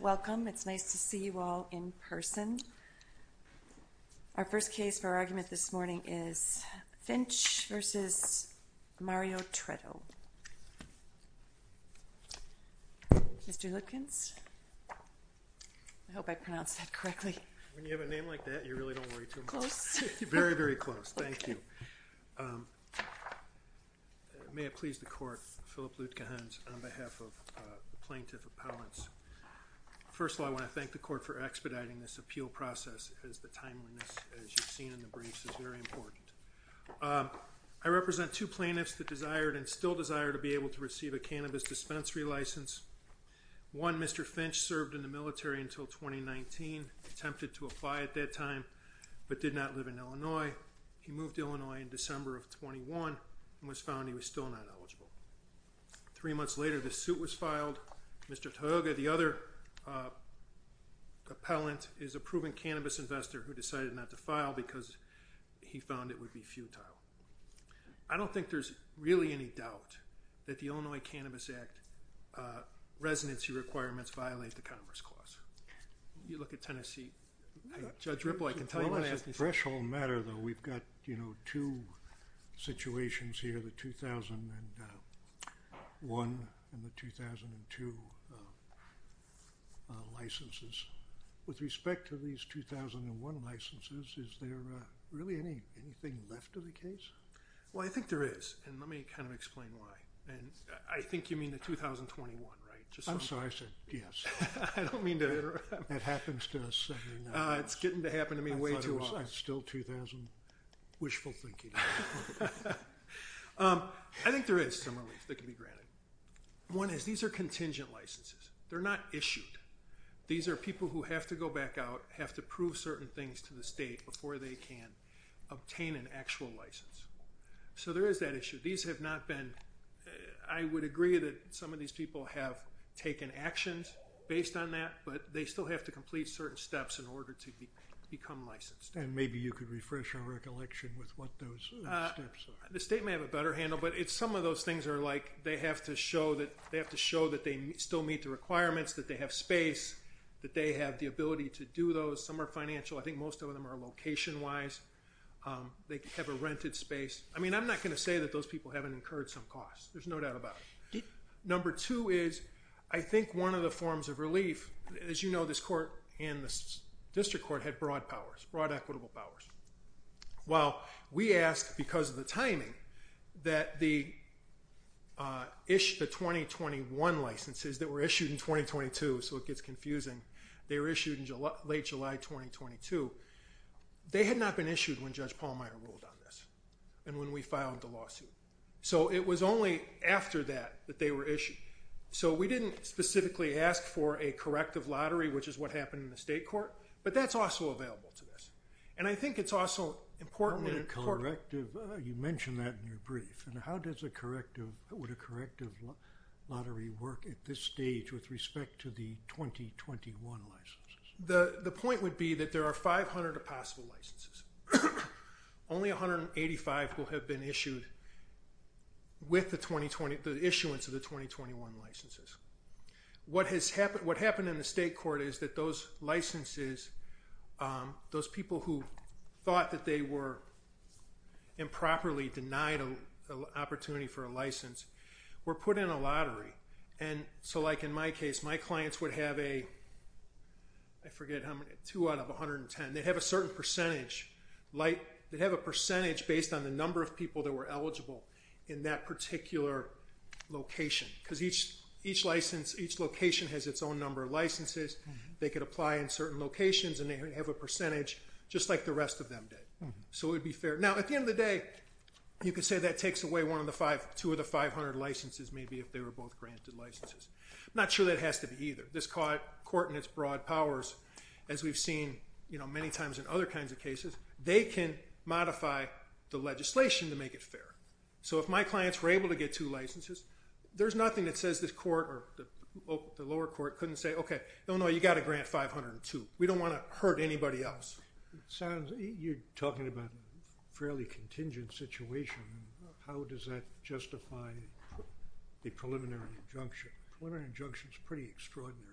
Welcome. It's nice to see you all in person. Our first case for our argument this morning is Finch v. Mario Treto. Mr. Lutkins? I hope I pronounced that correctly. When you have a name like that, you really don't worry too much. Close. Very, very close. Thank you. May it please the court, Philip Lutkins on behalf of the plaintiff appellants. First of all, I want to thank the court for expediting this appeal process as the timeliness, as you've seen in the briefs, is very important. I represent two plaintiffs that desired and still desire to be able to receive a cannabis dispensary license. One, Mr. Finch, served in the military until 2019, attempted to apply at that time, but did not live in Illinois. He moved to Illinois in December of 21 and was found he was still not eligible. Three months later, the suit was filed. Mr. Toyoga, the other appellant, is a proven cannabis investor who decided not to file because he found it would be futile. I don't think there's really any doubt that the Illinois Cannabis Act residency requirements violate the Commerce Clause. You look at Tennessee. Judge Ripple, I can tell you that's a threshold matter, though. We've got, you know, two situations here, the 2001 and the 2002 licenses. With respect to these 2001 licenses, is there really anything left of the case? Well, I think there is, and let me kind of explain why. And I think you mean the 2021, right? I'm sorry, I said yes. I don't mean to interrupt. It happens to us every now and then. It's getting to happen to me way too often. I thought it was still 2000. Wishful thinking. I think there is some relief that can be granted. One is these are contingent licenses. They're not issued. These are people who have to go back out, have to prove certain things to the state before they can obtain an actual license. So there is that issue. I would agree that some of these people have taken actions based on that, but they still have to complete certain steps in order to become licensed. And maybe you could refresh our recollection with what those steps are. The state may have a better handle, but some of those things are like they have to show that they still meet the requirements, that they have space, that they have the ability to do those. Some are financial. I think most of them are location-wise. They have a rented space. I mean, I'm not going to say that those people haven't incurred some cost. There's no doubt about it. Number two is I think one of the forms of relief, as you know, this court and this district court had broad powers, broad equitable powers. While we asked because of the timing that the 2021 licenses that were issued in 2022, so it gets confusing, they were issued in late July 2022. They had not been issued when Judge Pallmeyer ruled on this and when we filed the lawsuit. So it was only after that that they were issued. So we didn't specifically ask for a corrective lottery, which is what happened in the state court, but that's also available to us. And I think it's also important. You mentioned that in your brief. How would a corrective lottery work at this stage with respect to the 2021 licenses? The point would be that there are 500 possible licenses. Only 185 will have been issued with the issuance of the 2021 licenses. What happened in the state court is that those licenses, those people who thought that they were improperly denied an opportunity for a license were put in a lottery. And so like in my case, my clients would have a, I forget how many, two out of 110. They'd have a certain percentage. They'd have a percentage based on the number of people that were eligible in that particular location. Because each license, each location has its own number of licenses. They could apply in certain locations and they have a percentage just like the rest of them did. So it would be fair. Now, at the end of the day, you could say that takes away two of the 500 licenses maybe if they were both granted licenses. I'm not sure that has to be either. This court and its broad powers, as we've seen many times in other kinds of cases, they can modify the legislation to make it fair. So if my clients were able to get two licenses, there's nothing that says the lower court couldn't say, okay, no, no, you've got to grant 502. We don't want to hurt anybody else. You're talking about a fairly contingent situation. How does that justify the preliminary injunction? The preliminary injunction is pretty extraordinary.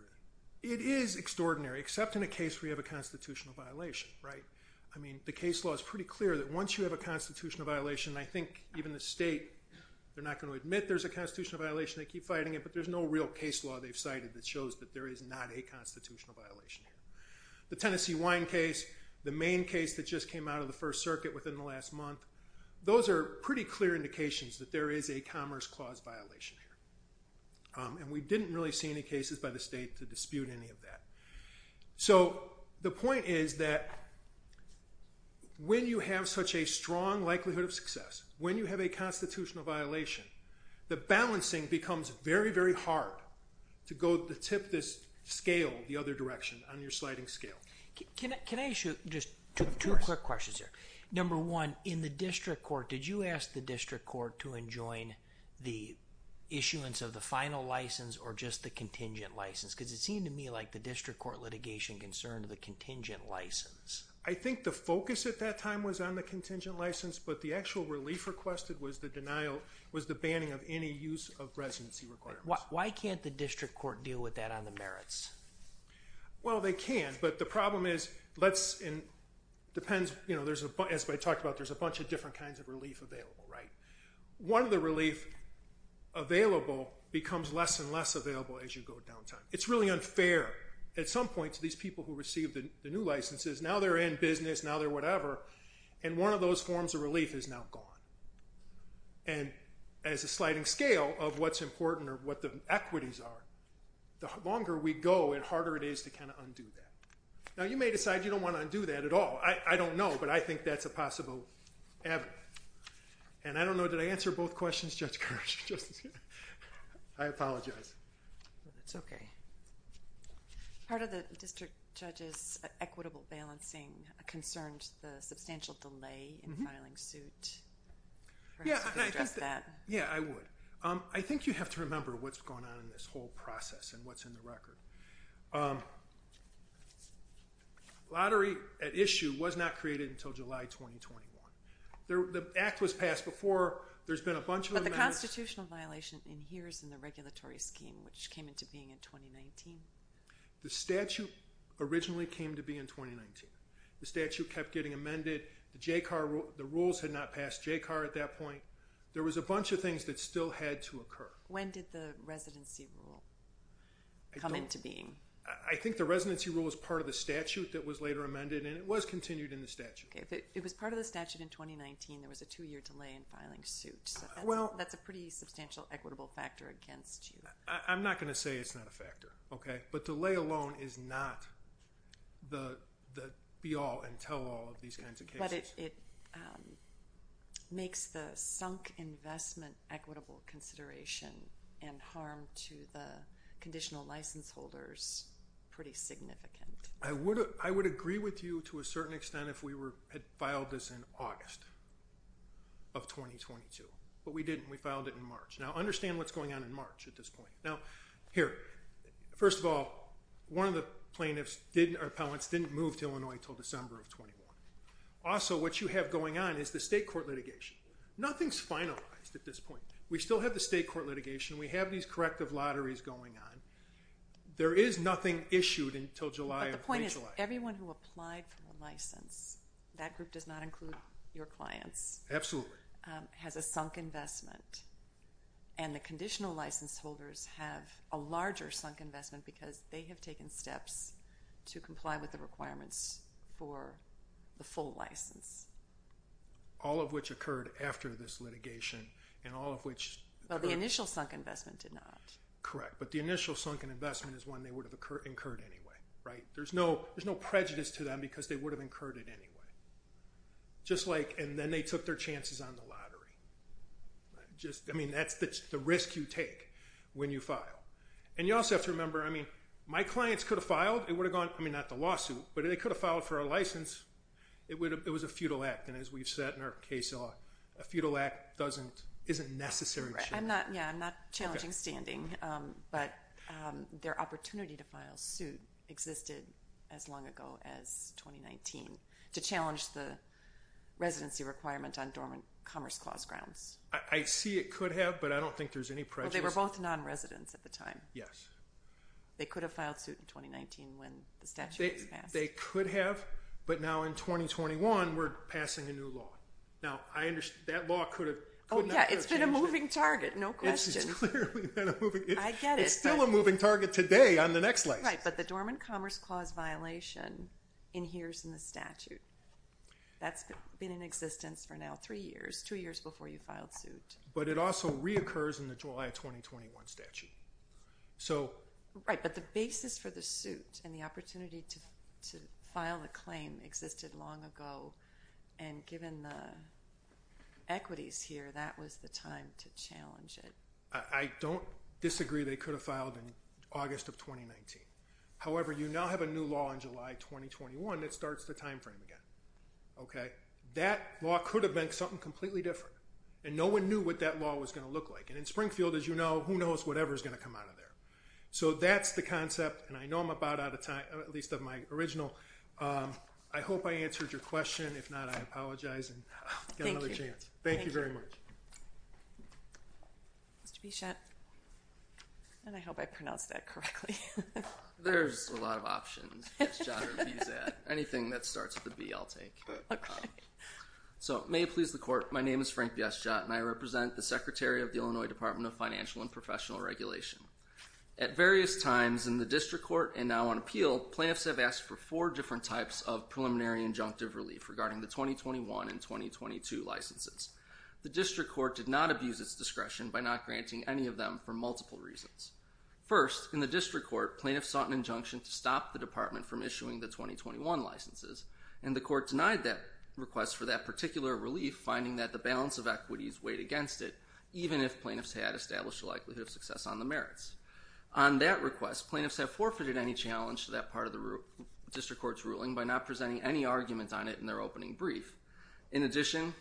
It is extraordinary, except in a case where you have a constitutional violation, right? I mean, the case law is pretty clear that once you have a constitutional violation, I think even the state, they're not going to admit there's a constitutional violation. They keep fighting it. But there's no real case law they've cited that shows that there is not a constitutional violation here. The Tennessee Wine case, the main case that just came out of the First Circuit within the last month, those are pretty clear indications that there is a Commerce Clause violation here. And we didn't really see any cases by the state to dispute any of that. So the point is that when you have such a strong likelihood of success, when you have a constitutional violation, the balancing becomes very, very hard to tip this scale the other direction on your sliding scale. Can I ask you just two quick questions here? Of course. Number one, in the district court, did you ask the district court to enjoin the issuance of the final license or just the contingent license? Because it seemed to me like the district court litigation concerned the contingent license. I think the focus at that time was on the contingent license, but the actual relief requested was the banning of any use of residency requirements. Why can't the district court deal with that on the merits? Well, they can. But the problem is, as I talked about, there's a bunch of different kinds of relief available. One of the relief available becomes less and less available as you go down time. It's really unfair at some point to these people who receive the new licenses. Now they're in business. Now they're whatever. And one of those forms of relief is now gone. And as a sliding scale of what's important or what the equities are, the longer we go, the harder it is to kind of undo that. Now you may decide you don't want to undo that at all. I don't know, but I think that's a possible avenue. And I don't know, did I answer both questions, Judge Gersh? I apologize. That's okay. Part of the district judge's equitable balancing concerns the substantial delay in filing suit. Perhaps you could address that. Yeah, I would. I think you have to remember what's going on in this whole process and what's in the record. Lottery at issue was not created until July 2021. The act was passed before. There's been a bunch of amendments. Constitutional violation in here is in the regulatory scheme, which came into being in 2019. The statute originally came to be in 2019. The statute kept getting amended. The rules had not passed JCAR at that point. There was a bunch of things that still had to occur. When did the residency rule come into being? I think the residency rule was part of the statute that was later amended, and it was continued in the statute. It was part of the statute in 2019. There was a two-year delay in filing suit. That's a pretty substantial equitable factor against you. I'm not going to say it's not a factor, okay? But delay alone is not the be-all and tell-all of these kinds of cases. But it makes the sunk investment equitable consideration and harm to the conditional license holders pretty significant. I would agree with you to a certain extent if we had filed this in August of 2022. But we didn't. We filed it in March. Now, understand what's going on in March at this point. Now, here, first of all, one of the plaintiffs or appellants didn't move to Illinois until December of 2021. Also, what you have going on is the state court litigation. Nothing's finalized at this point. We still have the state court litigation. We have these corrective lotteries going on. There is nothing issued until July of late July. But the point is everyone who applied for the license, that group does not include your clients. Absolutely. Has a sunk investment. And the conditional license holders have a larger sunk investment because they have taken steps to comply with the requirements for the full license. All of which occurred after this litigation and all of which occurred. Well, the initial sunk investment did not. Correct. But the initial sunk investment is one they would have incurred anyway, right? There's no prejudice to them because they would have incurred it anyway. Just like and then they took their chances on the lottery. I mean, that's the risk you take when you file. And you also have to remember, I mean, my clients could have filed. I mean, not the lawsuit, but they could have filed for a license. It was a futile act. And as we've said in our case, a futile act isn't necessary. Yeah, I'm not challenging standing. But their opportunity to file suit existed as long ago as 2019 to challenge the residency requirement on dormant commerce clause grounds. I see it could have, but I don't think there's any prejudice. Well, they were both non-residents at the time. Yes. They could have filed suit in 2019 when the statute was passed. They could have. But now in 2021, we're passing a new law. Now, I understand that law could have. Oh, yeah, it's been a moving target, no question. It's clearly been a moving target. I get it. It's still a moving target today on the next license. Right, but the dormant commerce clause violation inheres in the statute. That's been in existence for now three years, two years before you filed suit. But it also reoccurs in the July 2021 statute. Right, but the basis for the suit and the opportunity to file the claim existed long ago. And given the equities here, that was the time to challenge it. I don't disagree they could have filed in August of 2019. However, you now have a new law in July 2021 that starts the time frame again. Okay, that law could have been something completely different. And no one knew what that law was going to look like. And in Springfield, as you know, who knows whatever is going to come out of there. So that's the concept. And I know I'm about out of time, at least of my original. I hope I answered your question. If not, I apologize. Thank you. Thank you very much. Mr. Bichette. And I hope I pronounced that correctly. There's a lot of options. Anything that starts with a B, I'll take. Okay. So may it please the court. My name is Frank Bichette, and I represent the Secretary of the Illinois Department of Financial and Professional Regulation. At various times in the district court and now on appeal, plaintiffs have asked for four different types of preliminary injunctive relief regarding the 2021 and 2022 licenses. The district court did not abuse its discretion by not granting any of them for multiple reasons. First, in the district court, plaintiffs sought an injunction to stop the department from issuing the 2021 licenses. And the court denied that request for that particular relief, finding that the balance of equities weighed against it, even if plaintiffs had established a likelihood of success on the merits. On that request, plaintiffs have forfeited any challenge to that part of the district court's ruling by not presenting any arguments on it in their opening brief. In addition,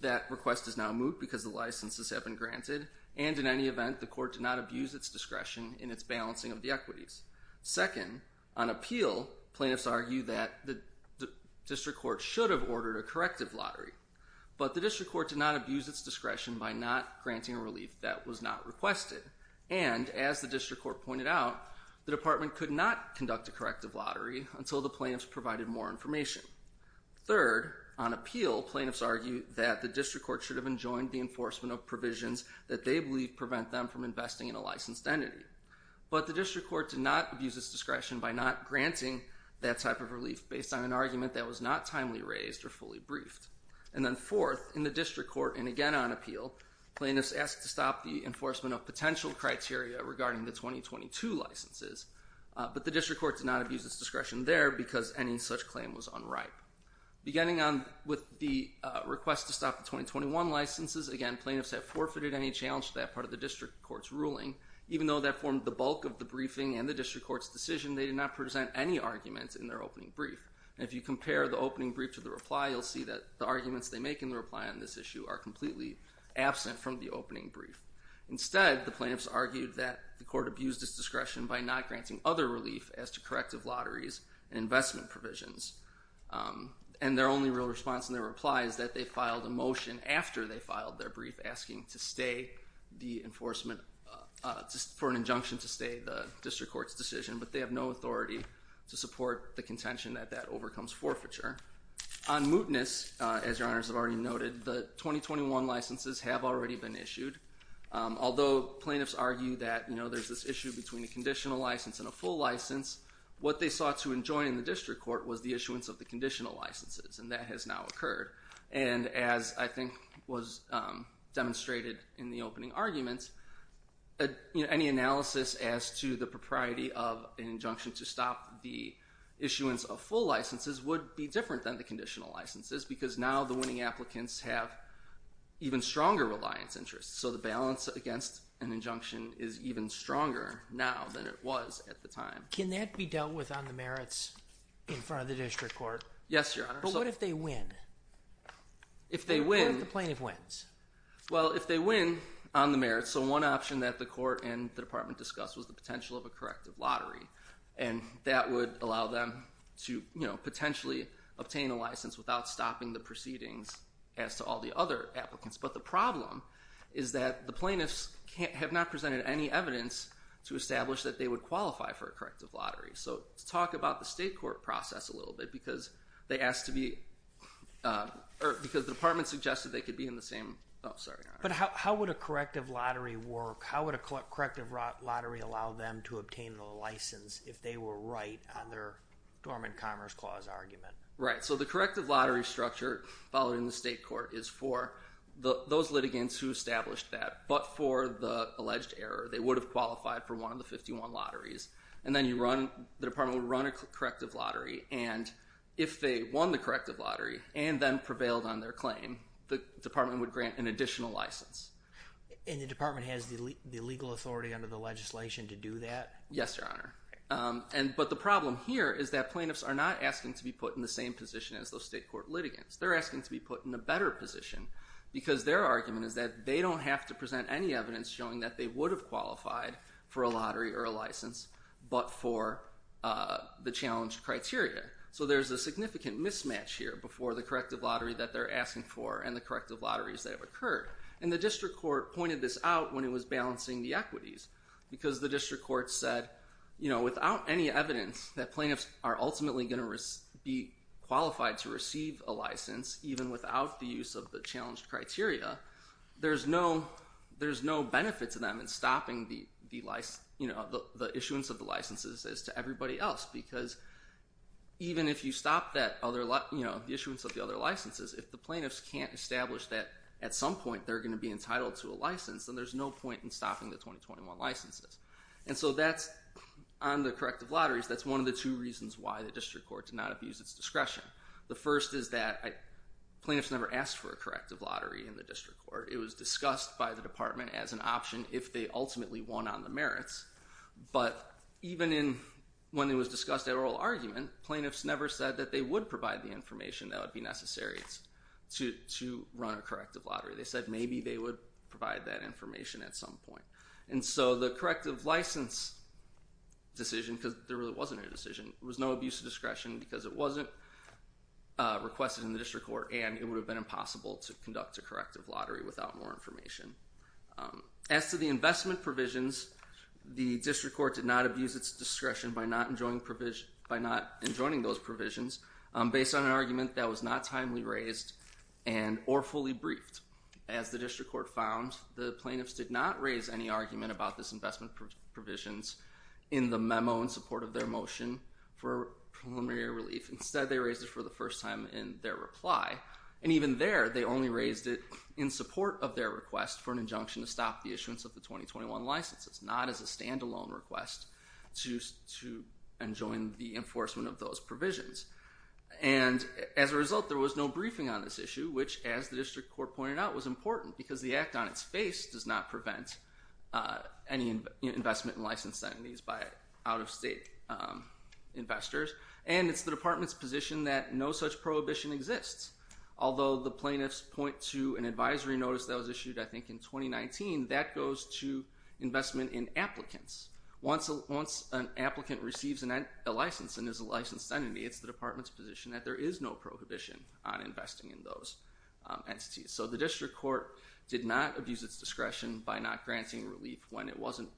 that request is now moot because the licenses have been granted. And in any event, the court did not abuse its discretion in its balancing of the equities. Second, on appeal, plaintiffs argue that the district court should have ordered a corrective lottery. But the district court did not abuse its discretion by not granting a relief that was not requested. And as the district court pointed out, the department could not conduct a corrective lottery until the plaintiffs provided more information. Third, on appeal, plaintiffs argue that the district court should have enjoined the enforcement of provisions that they believe prevent them from investing in a licensed entity. But the district court did not abuse its discretion by not granting that type of relief based on an argument that was not timely raised or fully briefed. And then fourth, in the district court and again on appeal, plaintiffs ask to stop the enforcement of potential criteria regarding the 2022 licenses. But the district court did not abuse its discretion there because any such claim was unripe. Beginning on with the request to stop the 2021 licenses, again, plaintiffs have forfeited any challenge to that part of the district court's ruling, even though that formed the bulk of the briefing and the district court's decision. They did not present any arguments in their opening brief. And if you compare the opening brief to the reply, you'll see that the arguments they make in the reply on this issue are completely absent from the opening brief. Instead, the plaintiffs argued that the court abused its discretion by not granting other relief as to corrective lotteries and investment provisions. And their only real response in their reply is that they filed a motion after they filed their brief asking for an injunction to stay the district court's decision, but they have no authority to support the contention that that overcomes forfeiture. On mootness, as your honors have already noted, the 2021 licenses have already been issued. Although plaintiffs argue that there's this issue between a conditional license and a full license, what they sought to enjoin in the district court was the issuance of the conditional licenses, and that has now occurred. And as I think was demonstrated in the opening arguments, any analysis as to the propriety of an injunction to stop the issuance of full licenses would be different than the conditional licenses, because now the winning applicants have even stronger reliance interests. So the balance against an injunction is even stronger now than it was at the time. Can that be dealt with on the merits in front of the district court? Yes, your honors. But what if they win? If they win. What if the plaintiff wins? Well, if they win on the merits, so one option that the court and the department discussed was the potential of a corrective lottery, and that would allow them to potentially obtain a license without stopping the proceedings as to all the other applicants. But the problem is that the plaintiffs have not presented any evidence to establish that they would qualify for a corrective lottery. So let's talk about the state court process a little bit, because the department suggested they could be in the same. But how would a corrective lottery work? How would a corrective lottery allow them to obtain a license if they were right on their Dormant Commerce Clause argument? Right. So the corrective lottery structure following the state court is for those litigants who established that, but for the alleged error. They would have qualified for one of the 51 lotteries. And then the department would run a corrective lottery, and if they won the corrective lottery and then prevailed on their claim, the department would grant an additional license. And the department has the legal authority under the legislation to do that? Yes, Your Honor. But the problem here is that plaintiffs are not asking to be put in the same position as those state court litigants. They're asking to be put in a better position, because their argument is that they don't have to present any evidence showing that they would have qualified for a lottery or a license, but for the challenged criteria. So there's a significant mismatch here before the corrective lottery that they're asking for and the corrective lotteries that have occurred. And the district court pointed this out when it was balancing the equities, because the district court said, you know, without any evidence that plaintiffs are ultimately going to be qualified to receive a license, even without the use of the challenged criteria, there's no benefit to them in stopping the issuance of the licenses as to everybody else. Because even if you stop the issuance of the other licenses, if the plaintiffs can't establish that at some point they're going to be entitled to a license, then there's no point in stopping the 2021 licenses. And so on the corrective lotteries, that's one of the two reasons why the district court did not abuse its discretion. The first is that plaintiffs never asked for a corrective lottery in the district court. It was discussed by the department as an option if they ultimately won on the merits. But even when it was discussed at oral argument, plaintiffs never said that they would provide the information that would be necessary to run a corrective lottery. They said maybe they would provide that information at some point. And so the corrective license decision, because there really wasn't a decision, there was no abuse of discretion because it wasn't requested in the district court and it would have been impossible to conduct a corrective lottery without more information. As to the investment provisions, the district court did not abuse its discretion by not enjoining those provisions based on an argument that was not timely raised and or fully briefed. As the district court found, the plaintiffs did not raise any argument about this investment provisions in the memo in support of their motion for preliminary relief. Instead, they raised it for the first time in their reply. And even there, they only raised it in support of their request for an injunction to stop the issuance of the 2021 licenses, not as a standalone request to enjoin the enforcement of those provisions. And as a result, there was no briefing on this issue, which, as the district court pointed out, was important because the act on its face does not prevent any investment in licensed entities by out-of-state investors. And it's the department's position that no such prohibition exists. Although the plaintiffs point to an advisory notice that was issued, I think, in 2019, that goes to investment in applicants. Once an applicant receives a license and is a licensed entity, it's the department's position that there is no prohibition on investing in those entities. So the district court did not abuse its discretion by not granting relief when it wasn't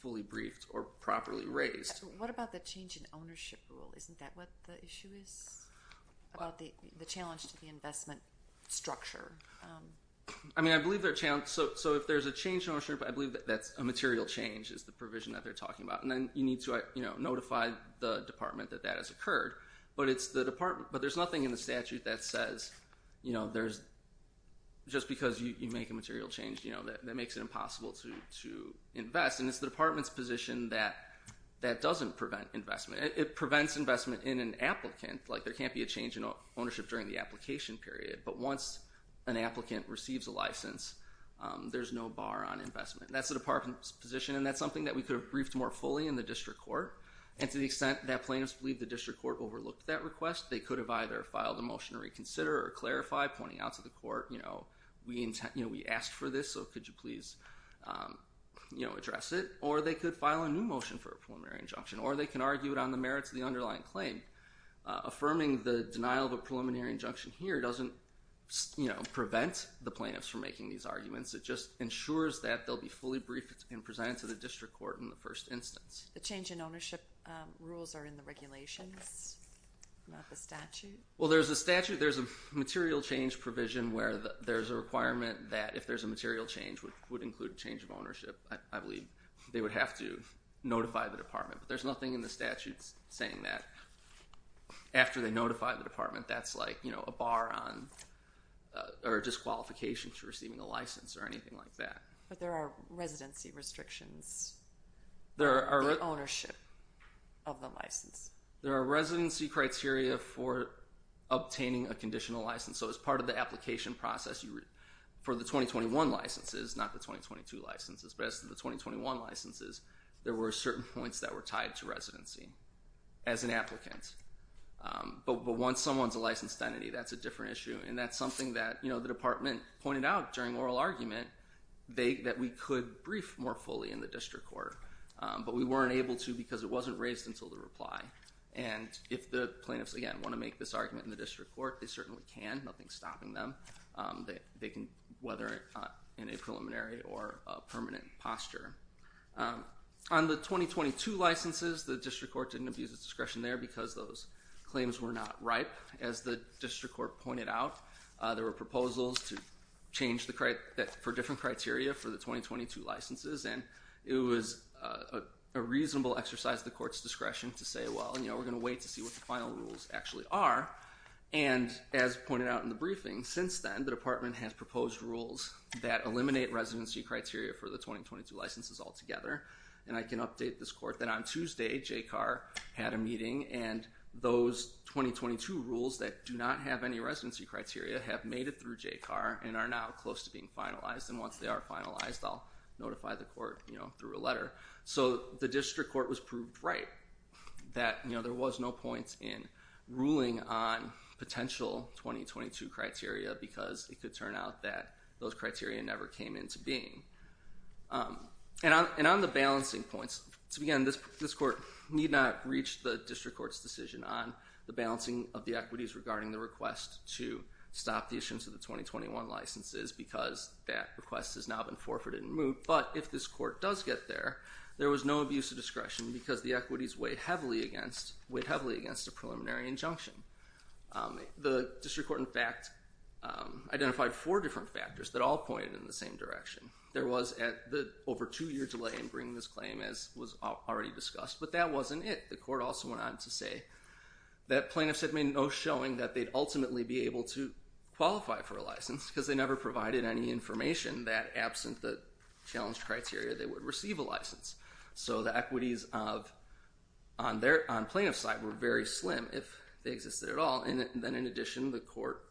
fully briefed or properly raised. What about the change in ownership rule? Isn't that what the issue is about the challenge to the investment structure? I mean, I believe they're challenged. So if there's a change in ownership, I believe that's a material change is the provision that they're talking about. And then you need to notify the department that that has occurred. But it's the department. But there's nothing in the statute that says, you know, there's just because you make a material change, you know, that makes it impossible to invest. And it's the department's position that that doesn't prevent investment. It prevents investment in an applicant. Like there can't be a change in ownership during the application period. But once an applicant receives a license, there's no bar on investment. That's the department's position, and that's something that we could have briefed more fully in the district court. And to the extent that plaintiffs believe the district court overlooked that request, they could have either filed a motion to reconsider or clarify, pointing out to the court, you know, we asked for this, so could you please, you know, address it? Or they could file a new motion for a preliminary injunction. Or they can argue it on the merits of the underlying claim. Affirming the denial of a preliminary injunction here doesn't, you know, prevent the plaintiffs from making these arguments. It just ensures that they'll be fully briefed and presented to the district court in the first instance. The change in ownership rules are in the regulations, not the statute. Well, there's a statute. There's a material change provision where there's a requirement that if there's a material change, which would include change of ownership, I believe they would have to notify the department. But there's nothing in the statute saying that. After they notify the department, that's like, you know, a bar on or disqualification to receiving a license or anything like that. But there are residency restrictions. The ownership of the license. There are residency criteria for obtaining a conditional license. So as part of the application process for the 2021 licenses, not the 2022 licenses, but as to the 2021 licenses, there were certain points that were tied to residency as an applicant. But once someone's a licensed entity, that's a different issue. And that's something that, you know, the department pointed out during oral argument that we could brief more fully in the district court. But we weren't able to because it wasn't raised until the reply. And if the plaintiffs, again, want to make this argument in the district court, they certainly can. Nothing's stopping them. They can, whether in a preliminary or permanent posture. On the 2022 licenses, the district court didn't abuse its discretion there because those claims were not ripe. As the district court pointed out, there were proposals to change that for different criteria for the 2022 licenses. And it was a reasonable exercise, the court's discretion to say, well, you know, we're going to wait to see what the final rules actually are. And as pointed out in the briefing since then, the department has proposed rules that eliminate residency criteria for the 2022 licenses altogether. And I can update this court that on Tuesday, Jay Carr had a meeting and those 2022 rules that do not have any residency criteria have made it through Jay Carr and are now close to being finalized. And once they are finalized, I'll notify the court, you know, through a letter. So the district court was proved right that, you know, there was no points in ruling on potential 2022 criteria because it could turn out that those criteria never came into being. And on the balancing points, to begin, this court need not reach the district court's decision on the balancing of the equities regarding the request to stop the issuance of the 2021 licenses because that request has now been forfeited and moved. But if this court does get there, there was no abuse of discretion because the equities weighed heavily against a preliminary injunction. The district court, in fact, identified four different factors that all pointed in the same direction. There was at the over two year delay in bringing this claim as was already discussed, but that wasn't it. The court also went on to say that plaintiffs had made no showing that they'd ultimately be able to qualify for a license because they never provided any information that absent the challenged criteria, they would receive a license. So the equities of on their, on plaintiff's side were very slim if they existed at all. And then in addition, the court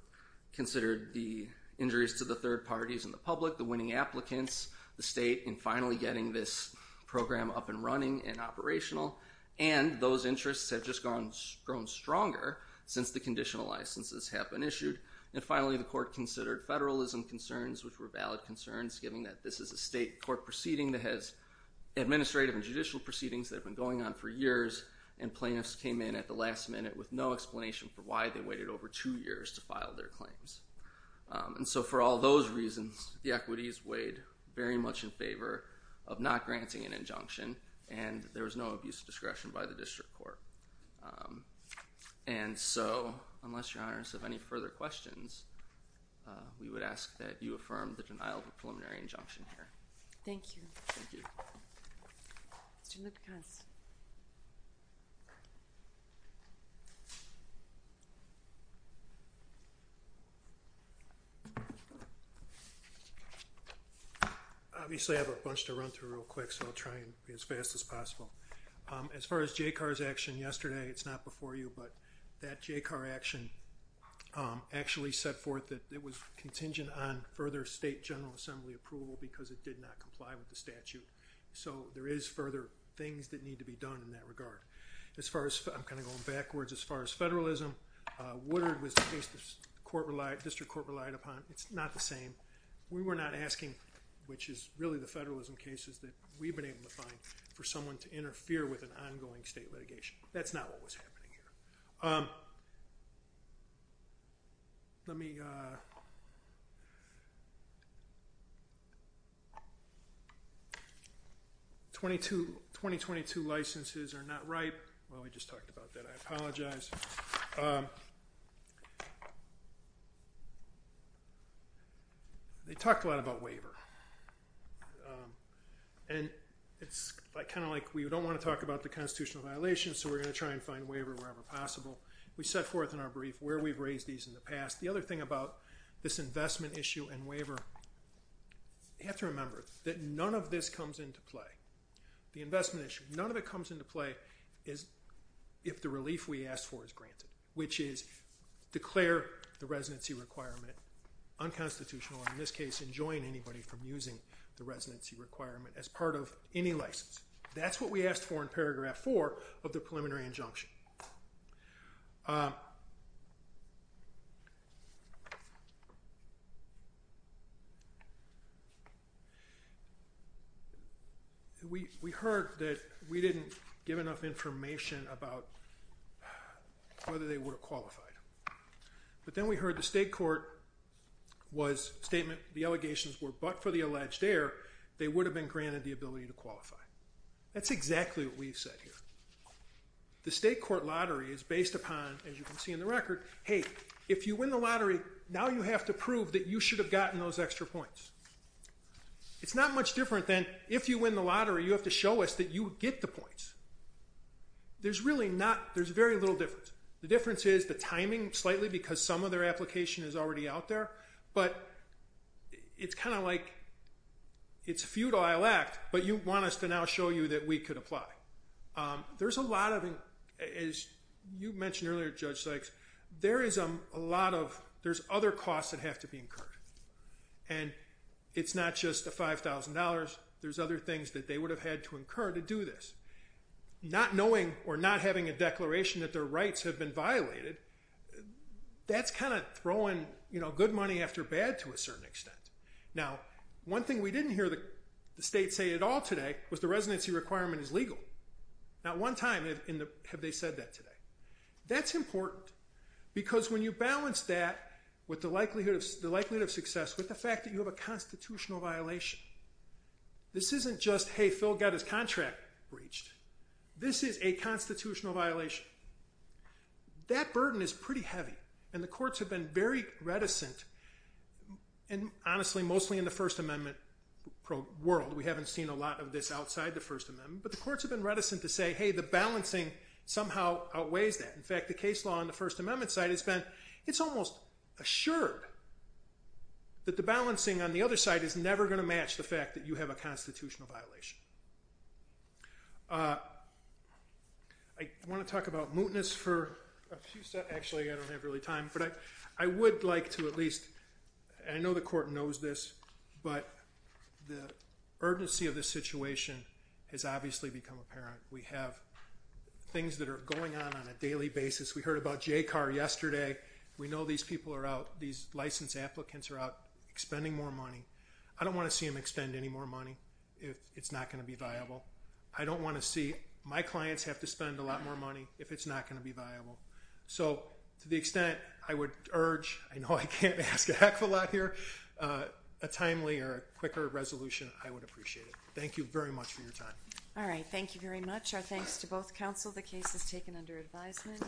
considered the injuries to the third parties in the public, the winning applicants, the state and finally getting this program up and running and operational. And those interests have just grown stronger since the conditional licenses have been issued. And finally, the court considered federalism concerns, which were valid concerns, giving that this is a state court proceeding that has administrative and judicial proceedings that have been going on for years. And plaintiffs came in at the last minute with no explanation for why they waited over two years to file their claims. And so for all those reasons, the equities weighed very much in favor of not granting an injunction. And there was no abuse of discretion by the district court. And so unless your honors have any further questions, we would ask that you affirm the denial of a preliminary injunction here. Thank you. Obviously I have a bunch to run through real quick, so I'll try and be as fast as possible. Um, as far as Jay Carr's action yesterday, it's not before you, but that Jay Carr action, um, actually set forth that it was contingent on further state general assembly approval because it did not comply with the statute. So there is further things that need to be done in that regard. As far as I'm kind of going backwards, as far as federalism, uh, Woodard was the case the court relied district court relied upon. It's not the same. We were not asking, which is really the federalism cases that we've been able to find for someone to interfere with an ongoing state litigation. That's not what was happening here. Um, let me, uh, 22, 2022 licenses are not right. Well, we just talked about that. I apologize. Um, okay. They talked a lot about waiver. Um, and it's kind of like we don't want to talk about the constitutional violations. So we're going to try and find waiver wherever possible. We set forth in our brief where we've raised these in the past. The other thing about this investment issue and waiver, you have to remember that none of this comes into play. The investment issue, none of it comes into play is if the relief we asked for is granted, which is declare the residency requirement unconstitutional. And in this case, enjoying anybody from using the residency requirement as part of any license. That's what we asked for in paragraph four of the preliminary injunction. Um, we, we heard that we didn't give enough information about whether they were qualified, but then we heard the state court was statement. The allegations were, but for the alleged air, they would have been granted the ability to qualify. That's exactly what we've said here. The state court lottery is based upon, as you can see in the record, Hey, if you win the lottery, now you have to prove that you should have gotten those extra points. It's not much different than if you win the lottery, you have to show us that you get the points. There's really not. There's very little difference. The difference is the timing slightly because some of their application is already out there, but it's kind of like it's futile act, but you want us to now show you that we could apply. Um, there's a lot of, as you mentioned earlier, judge Sykes, there is a lot of, there's other costs that have to be incurred and it's not just a $5,000. There's other things that they would have had to incur to do this, not knowing or not having a declaration that their rights have been violated. That's kind of throwing, you know, good money after bad to a certain extent. Now, one thing we didn't hear the state say at all today was the residency requirement is legal. Not one time in the, have they said that today? That's important because when you balance that with the likelihood of the likelihood of success with the fact that you have a constitutional violation, this isn't just, Hey, Phil got his contract breached. This is a constitutional violation. That burden is pretty heavy and the courts have been very reticent and honestly, mostly in the first amendment world. We haven't seen a lot of this outside the first amendment, but the courts have been reticent to say, Hey, the balancing somehow outweighs that. In fact, the case law on the first amendment side has been, it's almost assured that the balancing on the other side is never going to match the fact that you have a constitutional violation. Uh, I want to talk about mootness for a few steps. Actually I don't have really time, but I, I would like to at least, I know the court knows this, but the urgency of this situation has obviously become apparent. We have things that are going on on a daily basis. We heard about Jay car yesterday. We know these people are out. These licensed applicants are out expending more money. I don't want to see them extend any more money if it's not going to be viable. I don't want to see my clients have to spend a lot more money if it's not going to be viable. So to the extent I would urge, I know I can't ask a heck of a lot here, uh, a timely or quicker resolution. I would appreciate it. Thank you very much for your time. All right. Thank you very much. Our thanks to both counsel. The case is taken under advisement.